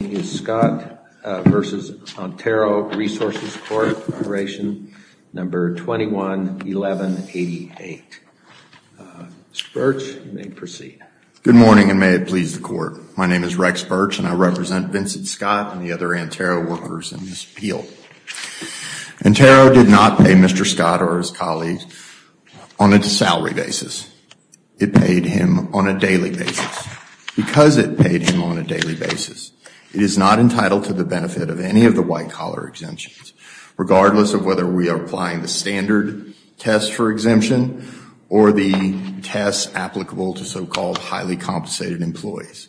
is Scott v. Antero Resources Corporation, number 211188. Mr. Birch, you may proceed. Good morning, and may it please the Court. My name is Rex Birch, and I represent Vincent Scott and the other Antero workers in this appeal. Antero did not pay Mr. Scott or his colleagues on a salary basis. It paid him on a daily basis. Because it paid him on a daily basis, it is not entitled to the benefit of any of the white-collar exemptions, regardless of whether we are applying the standard test for exemption or the test applicable to so-called highly compensated employees.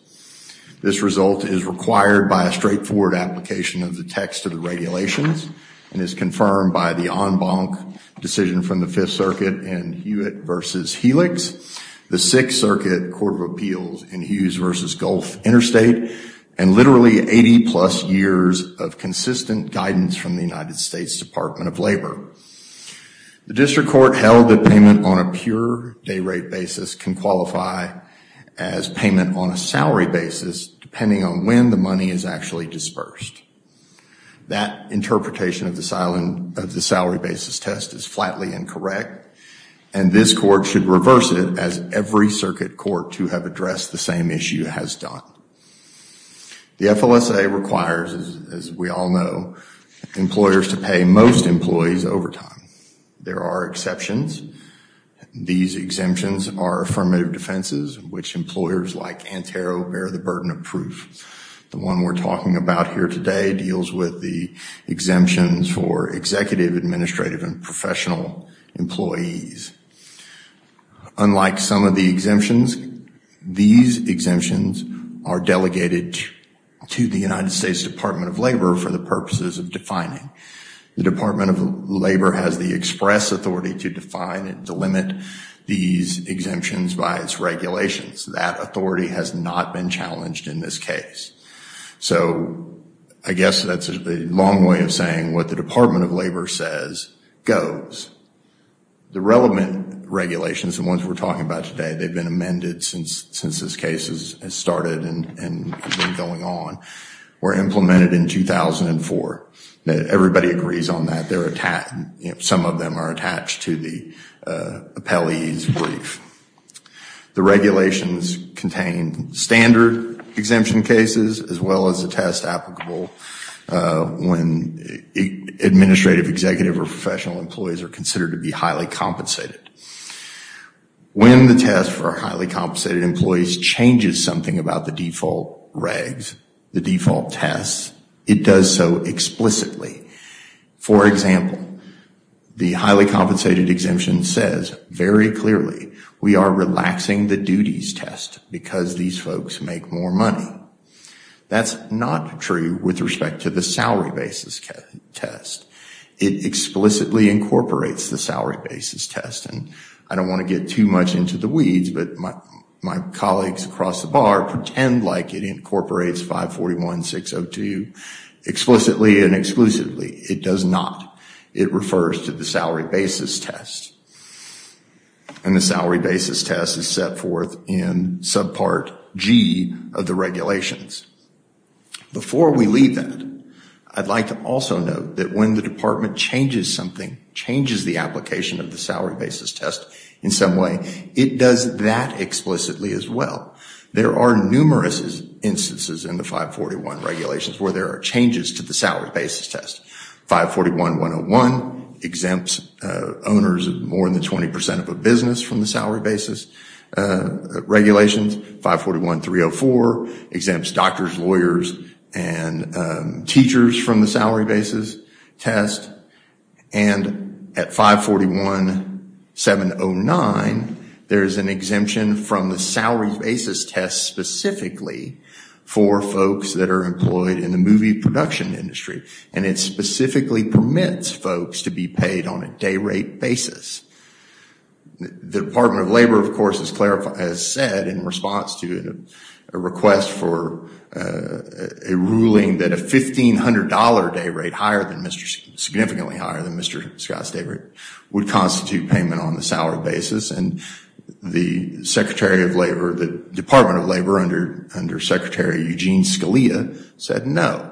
This result is required by a straightforward application of the text of the regulations and is confirmed by the en banc decision from the Fifth Circuit in Hewitt v. Helix, the Sixth Circuit Court of Appeals in Hughes v. Gulf Interstate, and literally 80-plus years of consistent guidance from the United States Department of Labor. The District Court held that payment on a pure day-rate basis can qualify as payment on a salary basis, depending on when the money is actually dispersed. That interpretation of the salary basis test is flatly incorrect, and this Court should reverse it, as every address the same issue has done. The FLSA requires, as we all know, employers to pay most employees overtime. There are exceptions. These exemptions are affirmative defenses which employers like Antero bear the burden of proof. The one we're talking about here today deals with the exemptions for executive, administrative, and professional employees. Unlike some of the exemptions, these exemptions are delegated to the United States Department of Labor for the purposes of defining. The Department of Labor has the express authority to define and to limit these exemptions by its regulations. That authority has not been challenged in this case. So, I guess that's a long way of saying what the Department of Labor has done. The current regulations, the ones we're talking about today, they've been amended since this case has started and has been going on, were implemented in 2004. Everybody agrees on that. Some of them are attached to the appellee's brief. The regulations contain standard exemption cases, as well as a test applicable when administrative, executive, or professional employees are considered to be highly compensated. When the test for highly compensated employees changes something about the default regs, the default tests, it does so explicitly. For example, the highly compensated exemption says very clearly, we are relaxing the duties test because these folks make more money. That's not true with respect to the salary basis test. It explicitly incorporates the salary basis test. I don't want to get too much into the weeds, but my colleagues across the bar pretend like it incorporates 541-602 explicitly and exclusively. It does not. It refers to the salary basis test as set forth in subpart G of the regulations. Before we leave that, I'd like to also note that when the department changes something, changes the application of the salary basis test in some way, it does that explicitly as well. There are numerous instances in the 541 regulations where there are changes to the salary basis test. 541-101 exempts owners of more than 20% of a business from the salary basis regulations. 541-304 exempts doctors, lawyers, and teachers from the salary basis test. And at 541-709, there is an exemption from the salary basis test specifically for folks that are employed in the movie production industry. And it The Department of Labor, of course, has said in response to a request for a ruling that a $1,500 day rate, significantly higher than Mr. Scott's day rate, would constitute payment on the salary basis. And the Secretary of Labor, the Department of Labor under Secretary Eugene Scalia said no.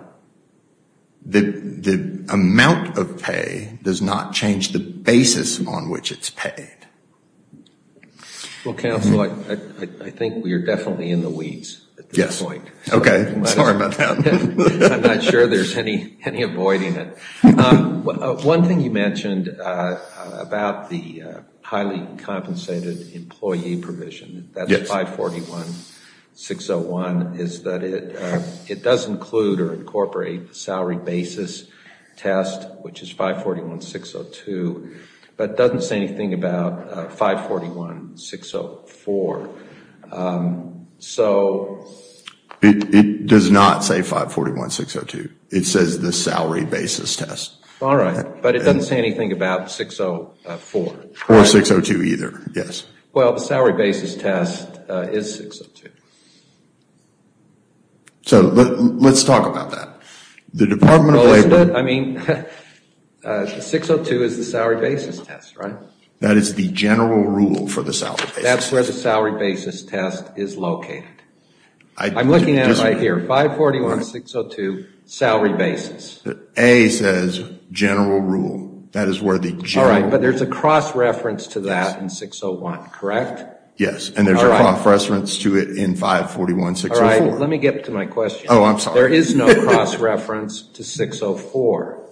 The amount of pay does not change the basis on which it's paid. Well, counsel, I think we are definitely in the weeds at this point. Okay. Sorry about that. I'm not sure there's any avoiding it. One thing you mentioned about the highly compensated employee provision, that's 541-601, is that it does include or incorporate the salary basis test, which is 541-602, but doesn't say anything about 541-604. It does not say 541-602. It says the salary basis test. All right. But it doesn't say anything about 604. Or 602 either. Yes. Well, the salary basis test is 602. So let's talk about that. The Department of Labor Well, isn't it? I mean, 602 is the salary basis test, right? That is the general rule for the salary basis test. That's where the salary basis test is located. I'm looking at it right here. 541-602, salary basis. A says general rule. That is where the general rule There's a cross reference to that in 601, correct? Yes. And there's a cross reference to it in 541-604. All right. Let me get to my question. Oh, I'm sorry. There is no cross reference to 604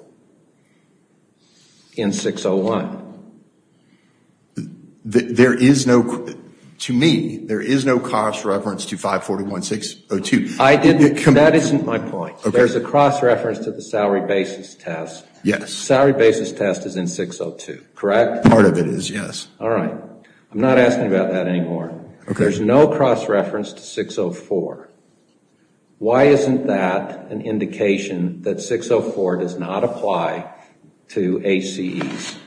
in 601. There is no, to me, there is no cross reference to 541-602. That isn't my point. There's a cross reference to the salary basis test. Yes. Correct? Part of it is, yes. All right. I'm not asking about that anymore. Okay. There's no cross reference to 604. Why isn't that an indication that 604 does not apply to HCEs?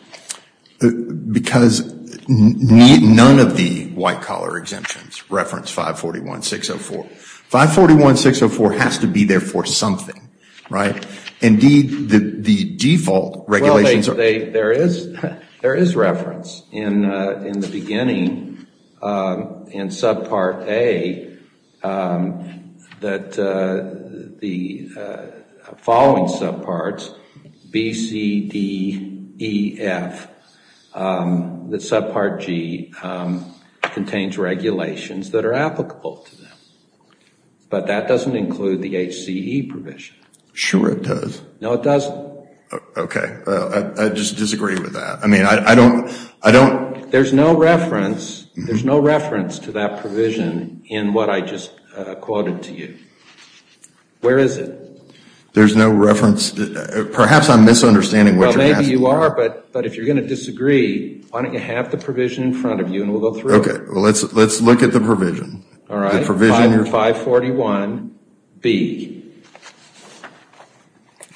Because none of the white collar exemptions reference 541-604. 541-604 has to be there for something, right? Indeed, the default regulations There is reference in the beginning in subpart A that the following subparts, B, C, D, E, F, that subpart G contains regulations that are applicable to them. But that doesn't include the HCE provision. Sure it does. No, it doesn't. Okay. I just disagree with that. I mean, I don't, I don't There's no reference, there's no reference to that provision in what I just quoted to you. Where is it? There's no reference, perhaps I'm misunderstanding what you're asking for. Well, maybe you are, but if you're going to disagree, why don't you have the provision in front of you and we'll go through it. Okay. Let's look at the provision. All right. The provision 541-B. 541-B.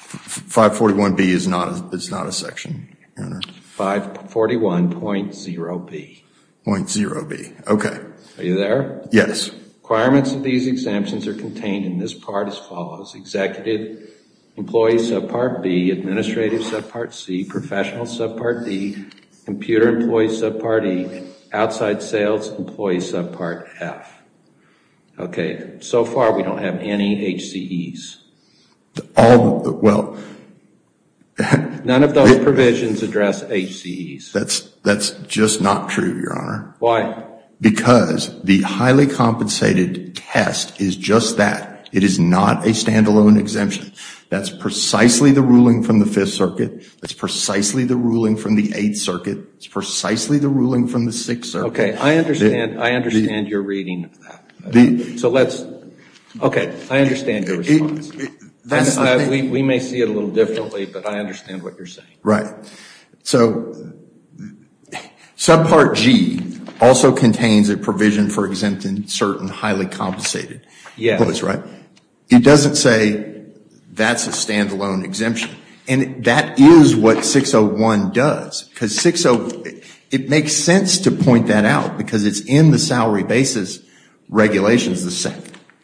541-B is not, it's not a section. 541.0-B. 0.0-B. Okay. Are you there? Yes. Requirements of these exemptions are contained in this part as follows. Executive employee subpart B, administrative subpart C, professional subpart D, computer employee subpart E, outside sales employee subpart F. Okay. So far we don't have any HCEs. All, well None of those provisions address HCEs. That's, that's just not true, Your Honor. Why? Because the highly compensated test is just that. It is not a standalone exemption. That's precisely the ruling from the Fifth Circuit. That's precisely the ruling from the Eighth Circuit. It's precisely the ruling from the Sixth Circuit. Okay. I understand, I understand your reading of that. So let's, okay. I understand your response. We may see it a little differently, but I understand what you're saying. Right. So, subpart G also contains a provision for exempting certain highly compensated employees, right? Yes. It doesn't say that's a standalone exemption. And that is what 601 does. Because 60, it makes sense to point that out. Because it's in the salary basis regulations,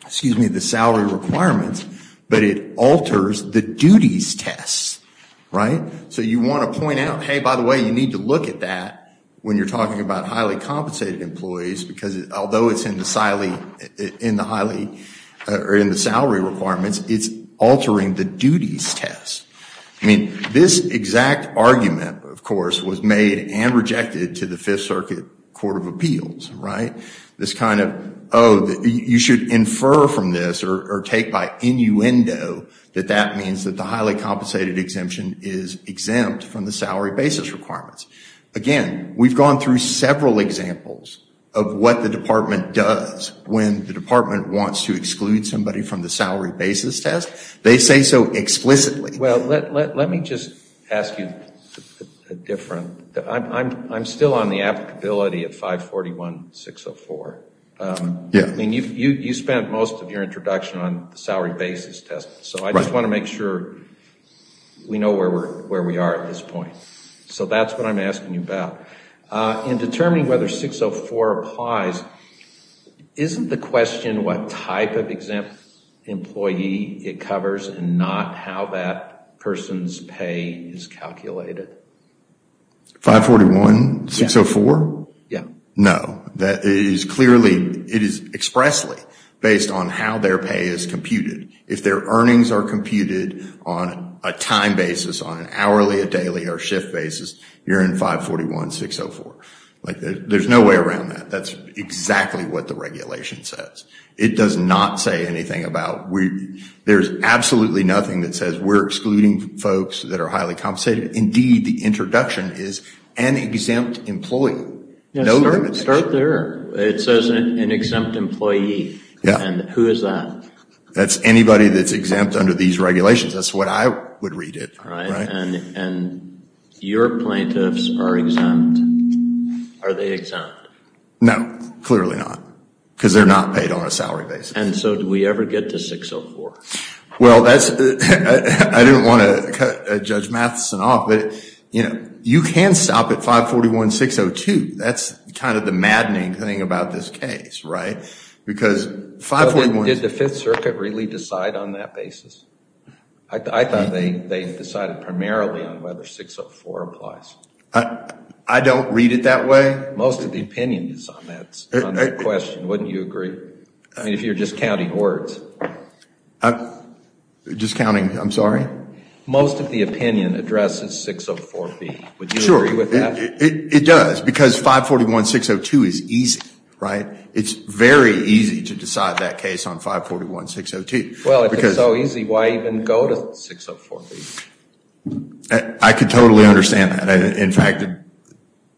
excuse me, the salary requirements. But it alters the duties test, right? So you want to point out, hey, by the way, you need to look at that when you're talking about highly compensated employees. Because although it's in the salary requirements, it's altering the duties test. I mean, this exact argument, of course, was made and rejected to the Fifth Circuit Court of Appeals, right? This kind of, oh, you should infer from this, or take by innuendo, that that means that the highly compensated exemption is exempt from the salary basis requirements. Again, we've gone through several examples of what the department does when the department wants to exclude somebody from the salary basis test. They say so explicitly. Well, let me just ask you a different. I'm still on the applicability of 541-604. I mean, you spent most of your introduction on the salary basis test. So I just want to make sure we know where we are at this point. So that's what I'm asking you about. In determining whether 604 applies, isn't the question what type of exempt employee it covers and not how that person's pay is calculated? 541-604? Yeah. No. That is clearly, it is expressly based on how their pay is computed. If their earnings are computed on a time basis, on an hourly, a daily, or shift basis, you're in 541-604. There's no way around that. That's exactly what the regulation says. It does not say anything about, there's absolutely nothing that says we're excluding folks that are highly compensated. Indeed, the introduction is an exempt employee. Start there. It says an exempt employee. And who is that? That's anybody that's exempt under these regulations. That's what I would read it. And your plaintiffs are exempt. Are they exempt? No. Clearly not. Because they're not paid on a salary basis. And so do we ever get to 604? Well, that's, I didn't want to cut Judge Matheson off, but you can stop at 541-602. That's kind of the maddening thing about this case, right? Did the Fifth Circuit really decide on that basis? I thought they decided primarily on whether 604 applies. I don't read it that way. Most of the opinion is on that question. Wouldn't you agree? I mean, if you're just counting words. Just counting, I'm sorry? Most of the opinion addresses 604B. Would you agree with that? Sure. It does, because 541-602 is easy, right? It's very easy to decide that case on 541-602. Well, if it's so easy, why even go to 604B? I could totally understand that. In fact,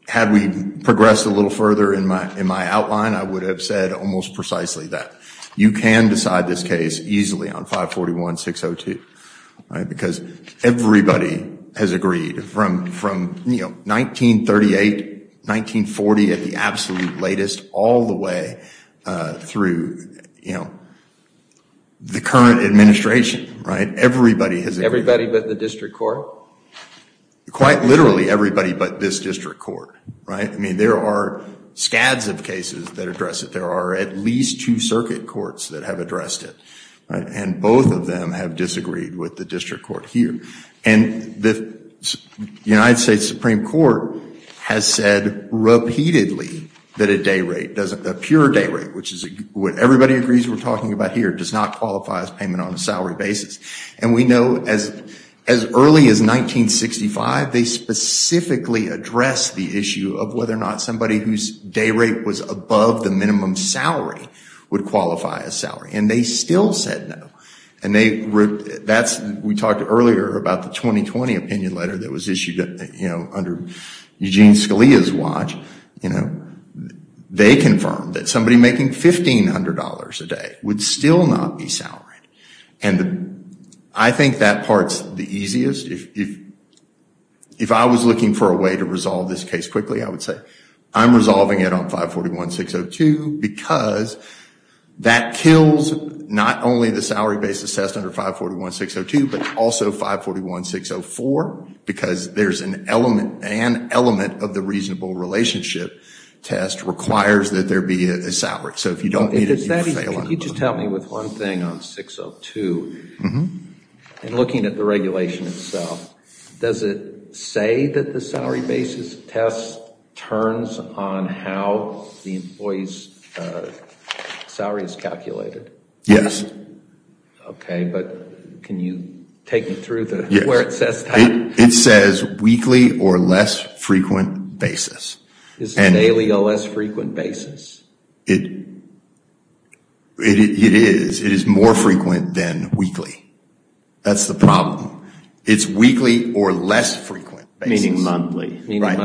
had we progressed a little further in my outline, I would have said almost precisely that. You can decide this case easily on 541-602. Because everybody has agreed from 1938, 1940 at the absolute latest, all the way through the current administration. Everybody has agreed. Everybody but the district court? Quite literally everybody but this district court. I mean, there are scads of cases that address it. There are at least two circuit courts that have addressed it. And both of them have disagreed with the district court here. And the United States Supreme Court has said repeatedly that a day rate, a pure day rate, which is what everybody agrees we're talking about here, does not qualify as payment on a salary basis. And we know as early as 1965, they specifically addressed the issue of whether or not somebody whose day rate was above the minimum salary would qualify as salary. And they still said no. And we talked earlier about the 2020 opinion letter that was issued under Eugene Scalia's watch. They confirmed that somebody making $1,500 a day would still not be salaried. And I think that part's the easiest. If I was looking for a way to resolve this case quickly, I would say I'm resolving it on 541-602 because that kills not only the salary basis test under 541-602 but also 541-604 because there's an element of the reasonable relationship test requires that there be a salary. So if you don't meet it, you fail on it. If it's that easy, can you just help me with one thing on 602? In looking at the regulation itself, does it say that the salary basis test turns on how the employee's salary is calculated? Yes. Okay, but can you take me through where it says that? It says weekly or less frequent basis. Is it daily or less frequent basis? It is. It is more frequent than weekly. That's the problem. It's weekly or less frequent basis. Meaning monthly. Meaning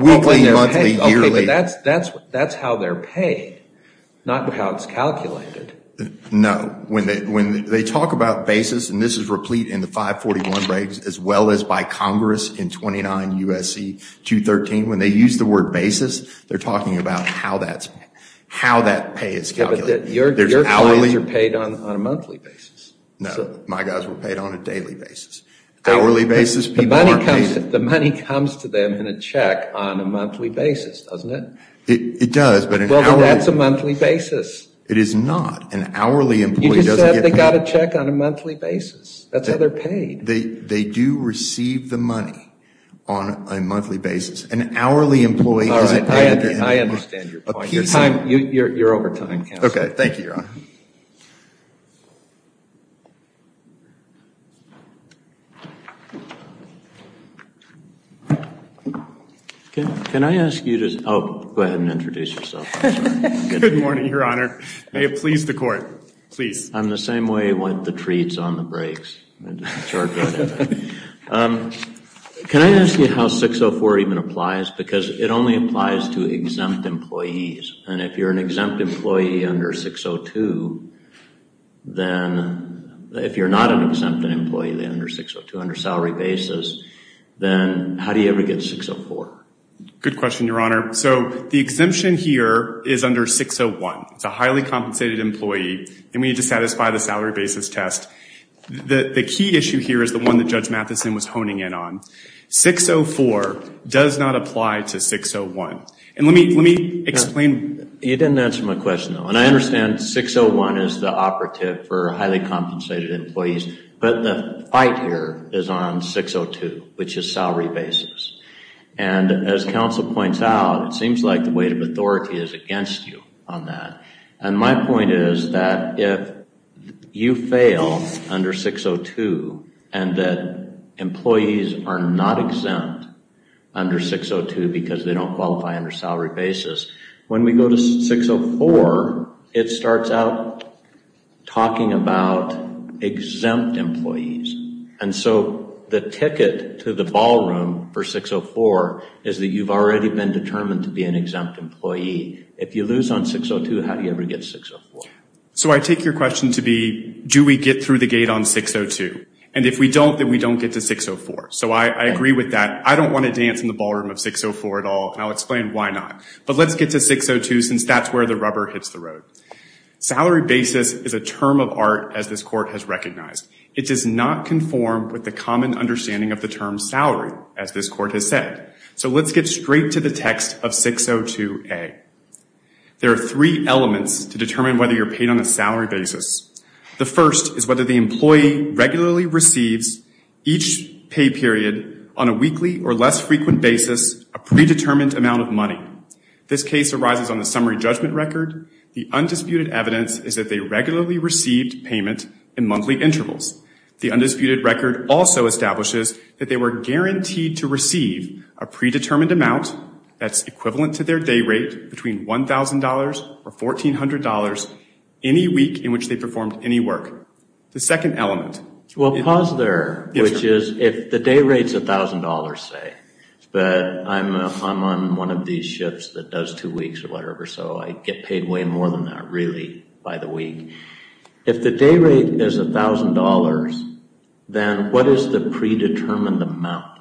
weekly, monthly, yearly. Okay, but that's how they're paid, not how it's calculated. No. When they talk about basis, and this is replete in the 541 regs as well as by Congress in 29 U.S.C. 213, when they use the word basis, they're talking about how that pay is calculated. Your guys are paid on a monthly basis. No, my guys were paid on a daily basis. Hourly basis, people aren't paid. The money comes to them in a check on a monthly basis, doesn't it? It does. Well, that's a monthly basis. It is not. An hourly employee doesn't get paid. You just said they got a check on a monthly basis. That's how they're paid. They do receive the money on a monthly basis. An hourly employee doesn't get it. I understand your point. You're over time, Counselor. Okay, thank you, Your Honor. Can I ask you to go ahead and introduce yourself? Good morning, Your Honor. May it please the Court, please. I'm the same way with the treats on the breaks. Can I ask you how 604 even applies? Because it only applies to exempt employees. And if you're an exempt employee under 602, then if you're not an exempt employee under 602, under salary basis, then how do you ever get 604? Good question, Your Honor. So the exemption here is under 601. It's a highly compensated employee, and we need to satisfy the salary basis test. The key issue here is the one that Judge Matheson was honing in on. 604 does not apply to 601. And let me explain. You didn't answer my question, though. And I understand 601 is the operative for highly compensated employees, but the fight here is on 602, which is salary basis. And as Counsel points out, it seems like the weight of authority is against you on that. And my point is that if you fail under 602 and that employees are not exempt under 602 because they don't qualify under salary basis, when we go to 604, it starts out talking about exempt employees. And so the ticket to the ballroom for 604 is that you've already been determined to be an exempt employee. If you lose on 602, how do you ever get 604? So I take your question to be, do we get through the gate on 602? And if we don't, then we don't get to 604. So I agree with that. I don't want to dance in the ballroom of 604 at all, and I'll explain why not. But let's get to 602 since that's where the rubber hits the road. Salary basis is a term of art, as this Court has recognized. It does not conform with the common understanding of the term salary, as this Court has said. So let's get straight to the text of 602A. There are three elements to determine whether you're paid on a salary basis. The first is whether the employee regularly receives each pay period on a weekly or less frequent basis a predetermined amount of money. This case arises on the summary judgment record. The undisputed evidence is that they regularly received payment in monthly intervals. The undisputed record also establishes that they were guaranteed to receive a predetermined amount that's equivalent to their day rate between $1,000 or $1,400 any week in which they performed any work. The second element. Well, pause there, which is if the day rate's $1,000, say, but I'm on one of these shifts that does two weeks or whatever, so I get paid way more than that really by the week. If the day rate is $1,000, then what is the predetermined amount?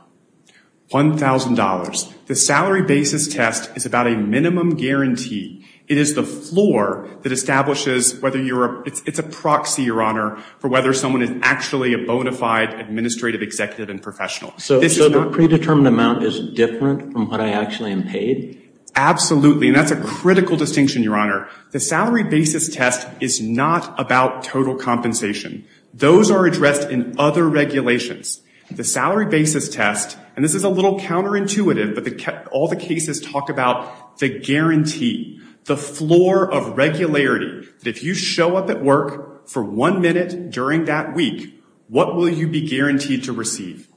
$1,000. The salary basis test is about a minimum guarantee. It is the floor that establishes whether you're a – it's a proxy, Your Honor, for whether someone is actually a bona fide administrative executive and professional. So the predetermined amount is different from what I actually am paid? Absolutely, and that's a critical distinction, Your Honor. The salary basis test is not about total compensation. Those are addressed in other regulations. The salary basis test, and this is a little counterintuitive, but all the cases talk about the guarantee, the floor of regularity, that if you show up at work for one minute during that week, what will you be guaranteed to receive?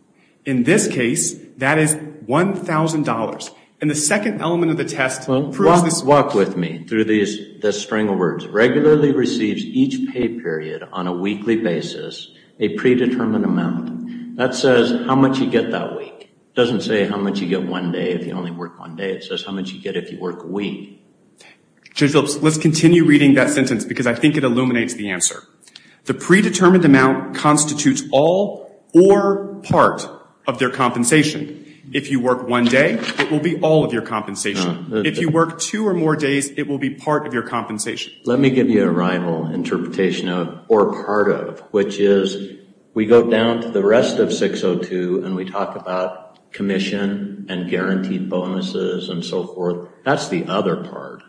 In this case, that is $1,000. And the second element of the test proves this. Walk with me through this string of words. Regularly receives each pay period on a weekly basis a predetermined amount. That says how much you get that week. It doesn't say how much you get one day if you only work one day. It says how much you get if you work a week. Judge Phillips, let's continue reading that sentence because I think it illuminates the answer. The predetermined amount constitutes all or part of their compensation. If you work one day, it will be all of your compensation. If you work two or more days, it will be part of your compensation. Let me give you a rival interpretation of or part of, which is we go down to the rest of 602 and we talk about commission and guaranteed bonuses and so forth. That's the other part.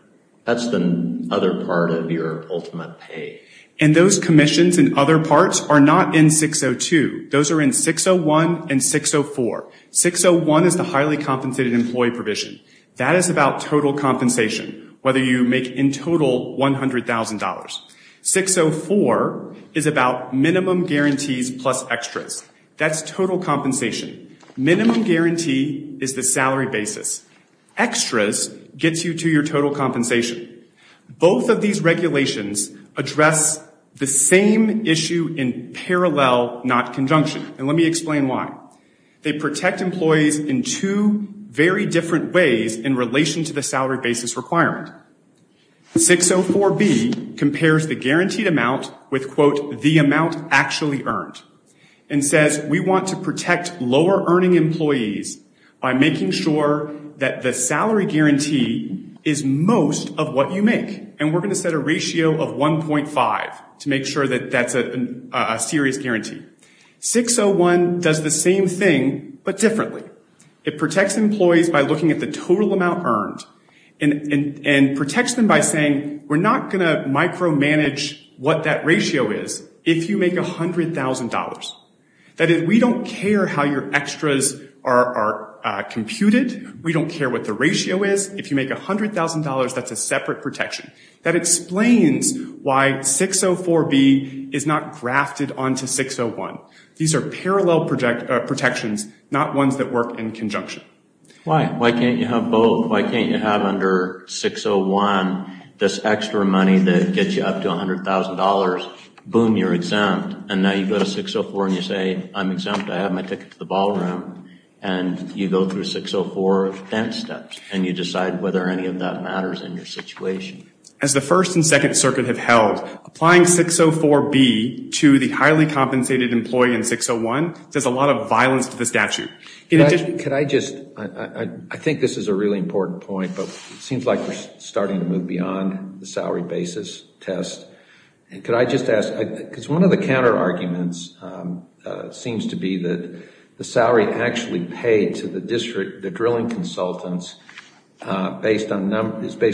That's the other part of your ultimate pay. And those commissions and other parts are not in 602. Those are in 601 and 604. 601 is the highly compensated employee provision. That is about total compensation, whether you make in total $100,000. 604 is about minimum guarantees plus extras. That's total compensation. Minimum guarantee is the salary basis. Extras gets you to your total compensation. Both of these regulations address the same issue in parallel, not conjunction. And let me explain why. They protect employees in two very different ways in relation to the salary basis requirement. 604B compares the guaranteed amount with, quote, the amount actually earned and says we want to protect lower earning employees by making sure that the salary guarantee is most of what you make. And we're going to set a ratio of 1.5 to make sure that that's a serious guarantee. 601 does the same thing but differently. It protects employees by looking at the total amount earned and protects them by saying we're not going to micromanage what that ratio is if you make $100,000. That is, we don't care how your extras are computed. We don't care what the ratio is. If you make $100,000, that's a separate protection. That explains why 604B is not grafted onto 601. These are parallel protections, not ones that work in conjunction. Why can't you have both? Why can't you have under 601 this extra money that gets you up to $100,000? Boom, you're exempt. And now you go to 604 and you say, I'm exempt. I have my ticket to the ballroom. And you go through 604 of dense steps and you decide whether any of that matters in your situation. As the First and Second Circuit have held, applying 604B to the highly compensated employee in 601 does a lot of violence to the statute. Can I just, I think this is a really important point, but it seems like we're starting to move beyond the salary basis test. Could I just ask, because one of the counterarguments seems to be that the salary actually paid to the district, the drilling consultants, is based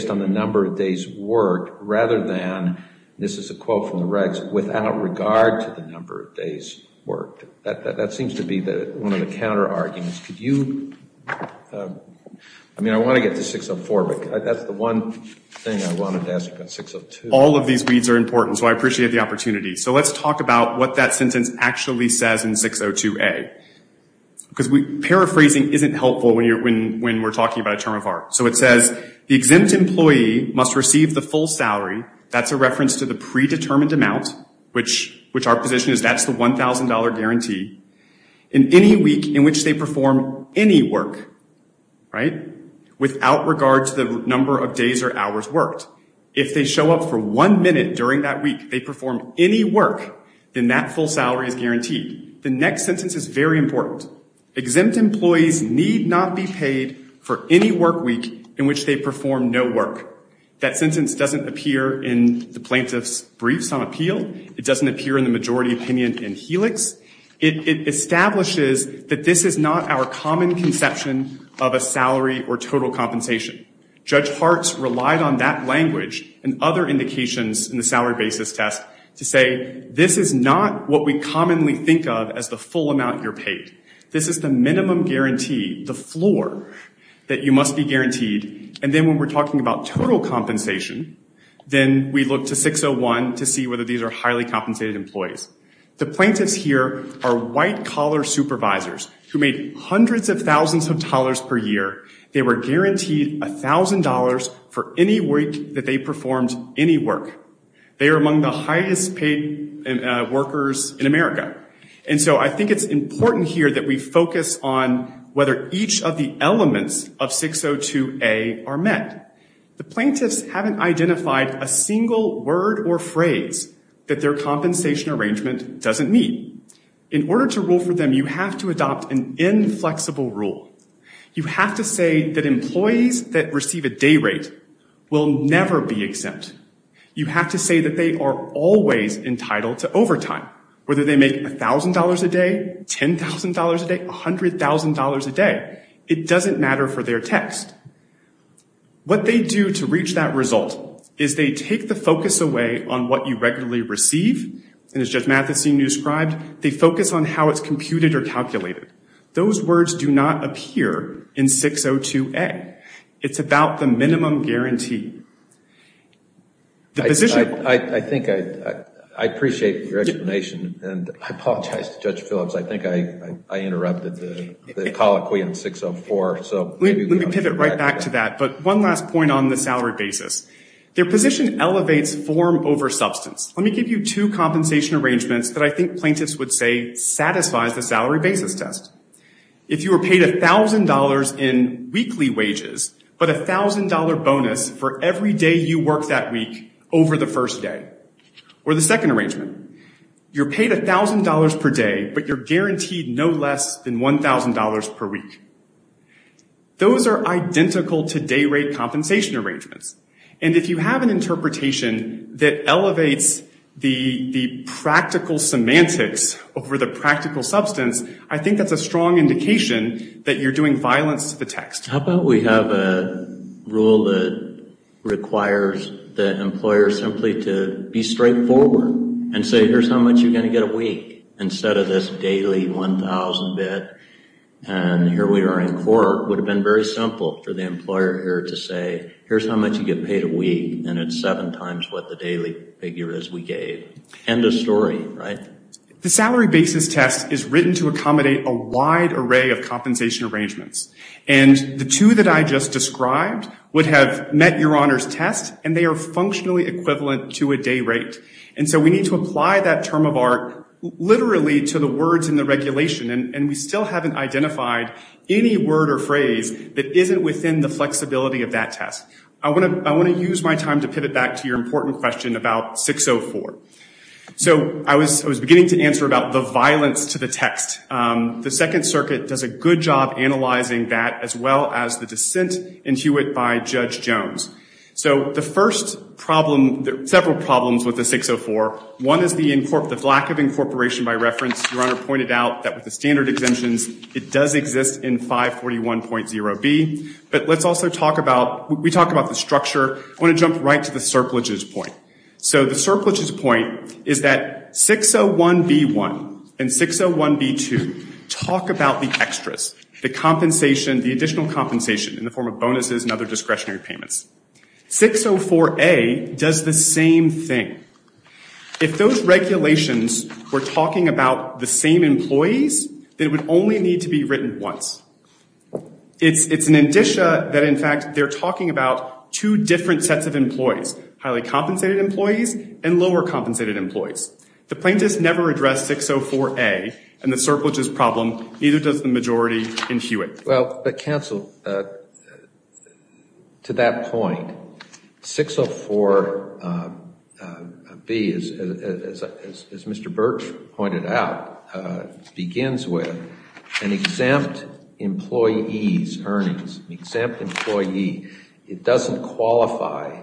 on the number of days worked rather than, this is a quote from the regs, without regard to the number of days worked. That seems to be one of the counterarguments. Could you, I mean I want to get to 604, but that's the one thing I wanted to ask about 602. And all of these weeds are important, so I appreciate the opportunity. So let's talk about what that sentence actually says in 602A. Because paraphrasing isn't helpful when we're talking about a term of art. So it says, the exempt employee must receive the full salary, that's a reference to the predetermined amount, which our position is that's the $1,000 guarantee, in any week in which they perform any work, right, without regard to the number of days or hours worked. If they show up for one minute during that week, they perform any work, then that full salary is guaranteed. The next sentence is very important. Exempt employees need not be paid for any work week in which they perform no work. That sentence doesn't appear in the plaintiff's briefs on appeal. It doesn't appear in the majority opinion in Helix. It establishes that this is not our common conception of a salary or total compensation. Judge Hartz relied on that language and other indications in the salary basis test to say this is not what we commonly think of as the full amount you're paid. This is the minimum guarantee, the floor, that you must be guaranteed. And then when we're talking about total compensation, then we look to 601 to see whether these are highly compensated employees. The plaintiffs here are white-collar supervisors who made hundreds of thousands of dollars per year. They were guaranteed $1,000 for any week that they performed any work. They are among the highest paid workers in America. And so I think it's important here that we focus on whether each of the elements of 602A are met. The plaintiffs haven't identified a single word or phrase that their compensation arrangement doesn't meet. In order to rule for them, you have to adopt an inflexible rule. You have to say that employees that receive a day rate will never be exempt. You have to say that they are always entitled to overtime, whether they make $1,000 a day, $10,000 a day, $100,000 a day. It doesn't matter for their test. What they do to reach that result is they take the focus away on what you regularly receive, and as Judge Mathison described, they focus on how it's computed or calculated. Those words do not appear in 602A. It's about the minimum guarantee. I think I appreciate your explanation, and I apologize to Judge Phillips. I think I interrupted the colloquy in 604. Let me pivot right back to that, but one last point on the salary basis. Their position elevates form over substance. Let me give you two compensation arrangements that I think plaintiffs would say satisfies the salary basis test. If you were paid $1,000 in weekly wages, but a $1,000 bonus for every day you worked that week over the first day, or the second arrangement, you're paid $1,000 per day, but you're guaranteed no less than $1,000 per week. Those are identical to day rate compensation arrangements, and if you have an interpretation that elevates the practical semantics over the practical substance, I think that's a strong indication that you're doing violence to the text. How about we have a rule that requires the employer simply to be straightforward and say, here's how much you're going to get a week, instead of this daily $1,000 bid, and here we are in court. It would have been very simple for the employer here to say, here's how much you get paid a week, and it's seven times what the daily figure is we gave. End of story, right? The salary basis test is written to accommodate a wide array of compensation arrangements, and the two that I just described would have met your Honor's test, and they are functionally equivalent to a day rate. And so we need to apply that term of art literally to the words in the regulation, and we still haven't identified any word or phrase that isn't within the flexibility of that test. I want to use my time to pivot back to your important question about 604. So I was beginning to answer about the violence to the text. The Second Circuit does a good job analyzing that, as well as the dissent into it by Judge Jones. So the first problem, there are several problems with the 604. One is the lack of incorporation by reference. Your Honor pointed out that with the standard exemptions, it does exist in 541.0b. But let's also talk about the structure. I want to jump right to the surpluses point. So the surpluses point is that 601.b.1 and 601.b.2 talk about the extras, the additional compensation in the form of bonuses and other discretionary payments. 604.a does the same thing. If those regulations were talking about the same employees, they would only need to be written once. It's an indicia that, in fact, they're talking about two different sets of employees, highly compensated employees and lower compensated employees. The plaintiffs never addressed 604.a and the surpluses problem, neither does the majority in Hewitt. Well, counsel, to that point, 604.b, as Mr. Birch pointed out, begins with an exempt employee's earnings, exempt employee. It doesn't qualify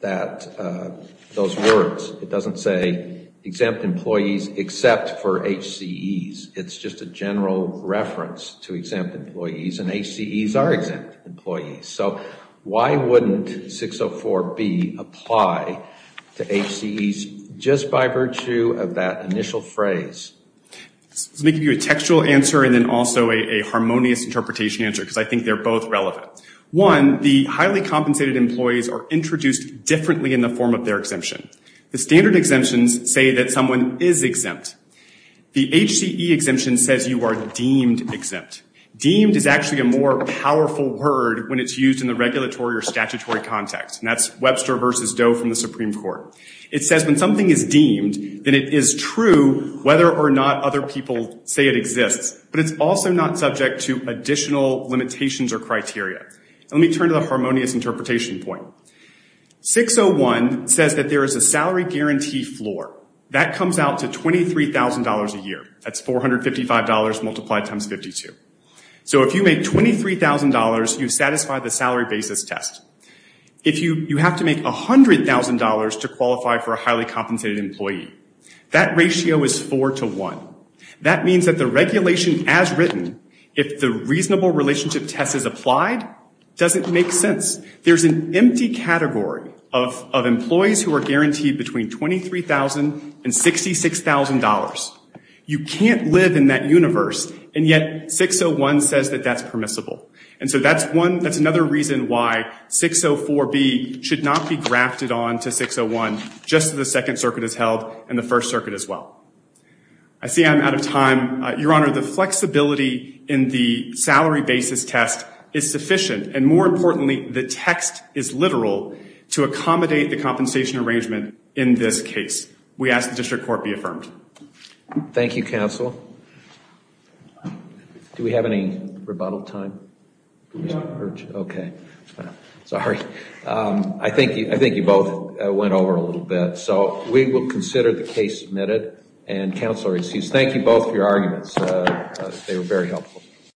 those words. It doesn't say exempt employees except for HCEs. It's just a general reference to exempt employees, and HCEs are exempt employees. So why wouldn't 604.b apply to HCEs just by virtue of that initial phrase? Let me give you a textual answer and then also a harmonious interpretation answer because I think they're both relevant. One, the highly compensated employees are introduced differently in the form of their exemption. The standard exemptions say that someone is exempt. The HCE exemption says you are deemed exempt. Deemed is actually a more powerful word when it's used in the regulatory or statutory context, and that's Webster v. Doe from the Supreme Court. It says when something is deemed, then it is true whether or not other people say it exists, but it's also not subject to additional limitations or criteria. Let me turn to the harmonious interpretation point. 601 says that there is a salary guarantee floor. That comes out to $23,000 a year. That's $455 multiplied times 52. So if you make $23,000, you satisfy the salary basis test. If you have to make $100,000 to qualify for a highly compensated employee, that ratio is 4 to 1. That means that the regulation as written, if the reasonable relationship test is applied, doesn't make sense. There's an empty category of employees who are guaranteed between $23,000 and $66,000. You can't live in that universe, and yet 601 says that that's permissible. And so that's another reason why 604B should not be grafted on to 601, just as the Second Circuit has held and the First Circuit as well. I see I'm out of time. Your Honor, the flexibility in the salary basis test is sufficient, and more importantly, the text is literal to accommodate the compensation arrangement in this case. We ask the district court be affirmed. Thank you, counsel. Do we have any rebuttal time? No. Okay. Sorry. I think you both went over a little bit. So we will consider the case submitted. And counsel, thank you both for your arguments. They were very helpful.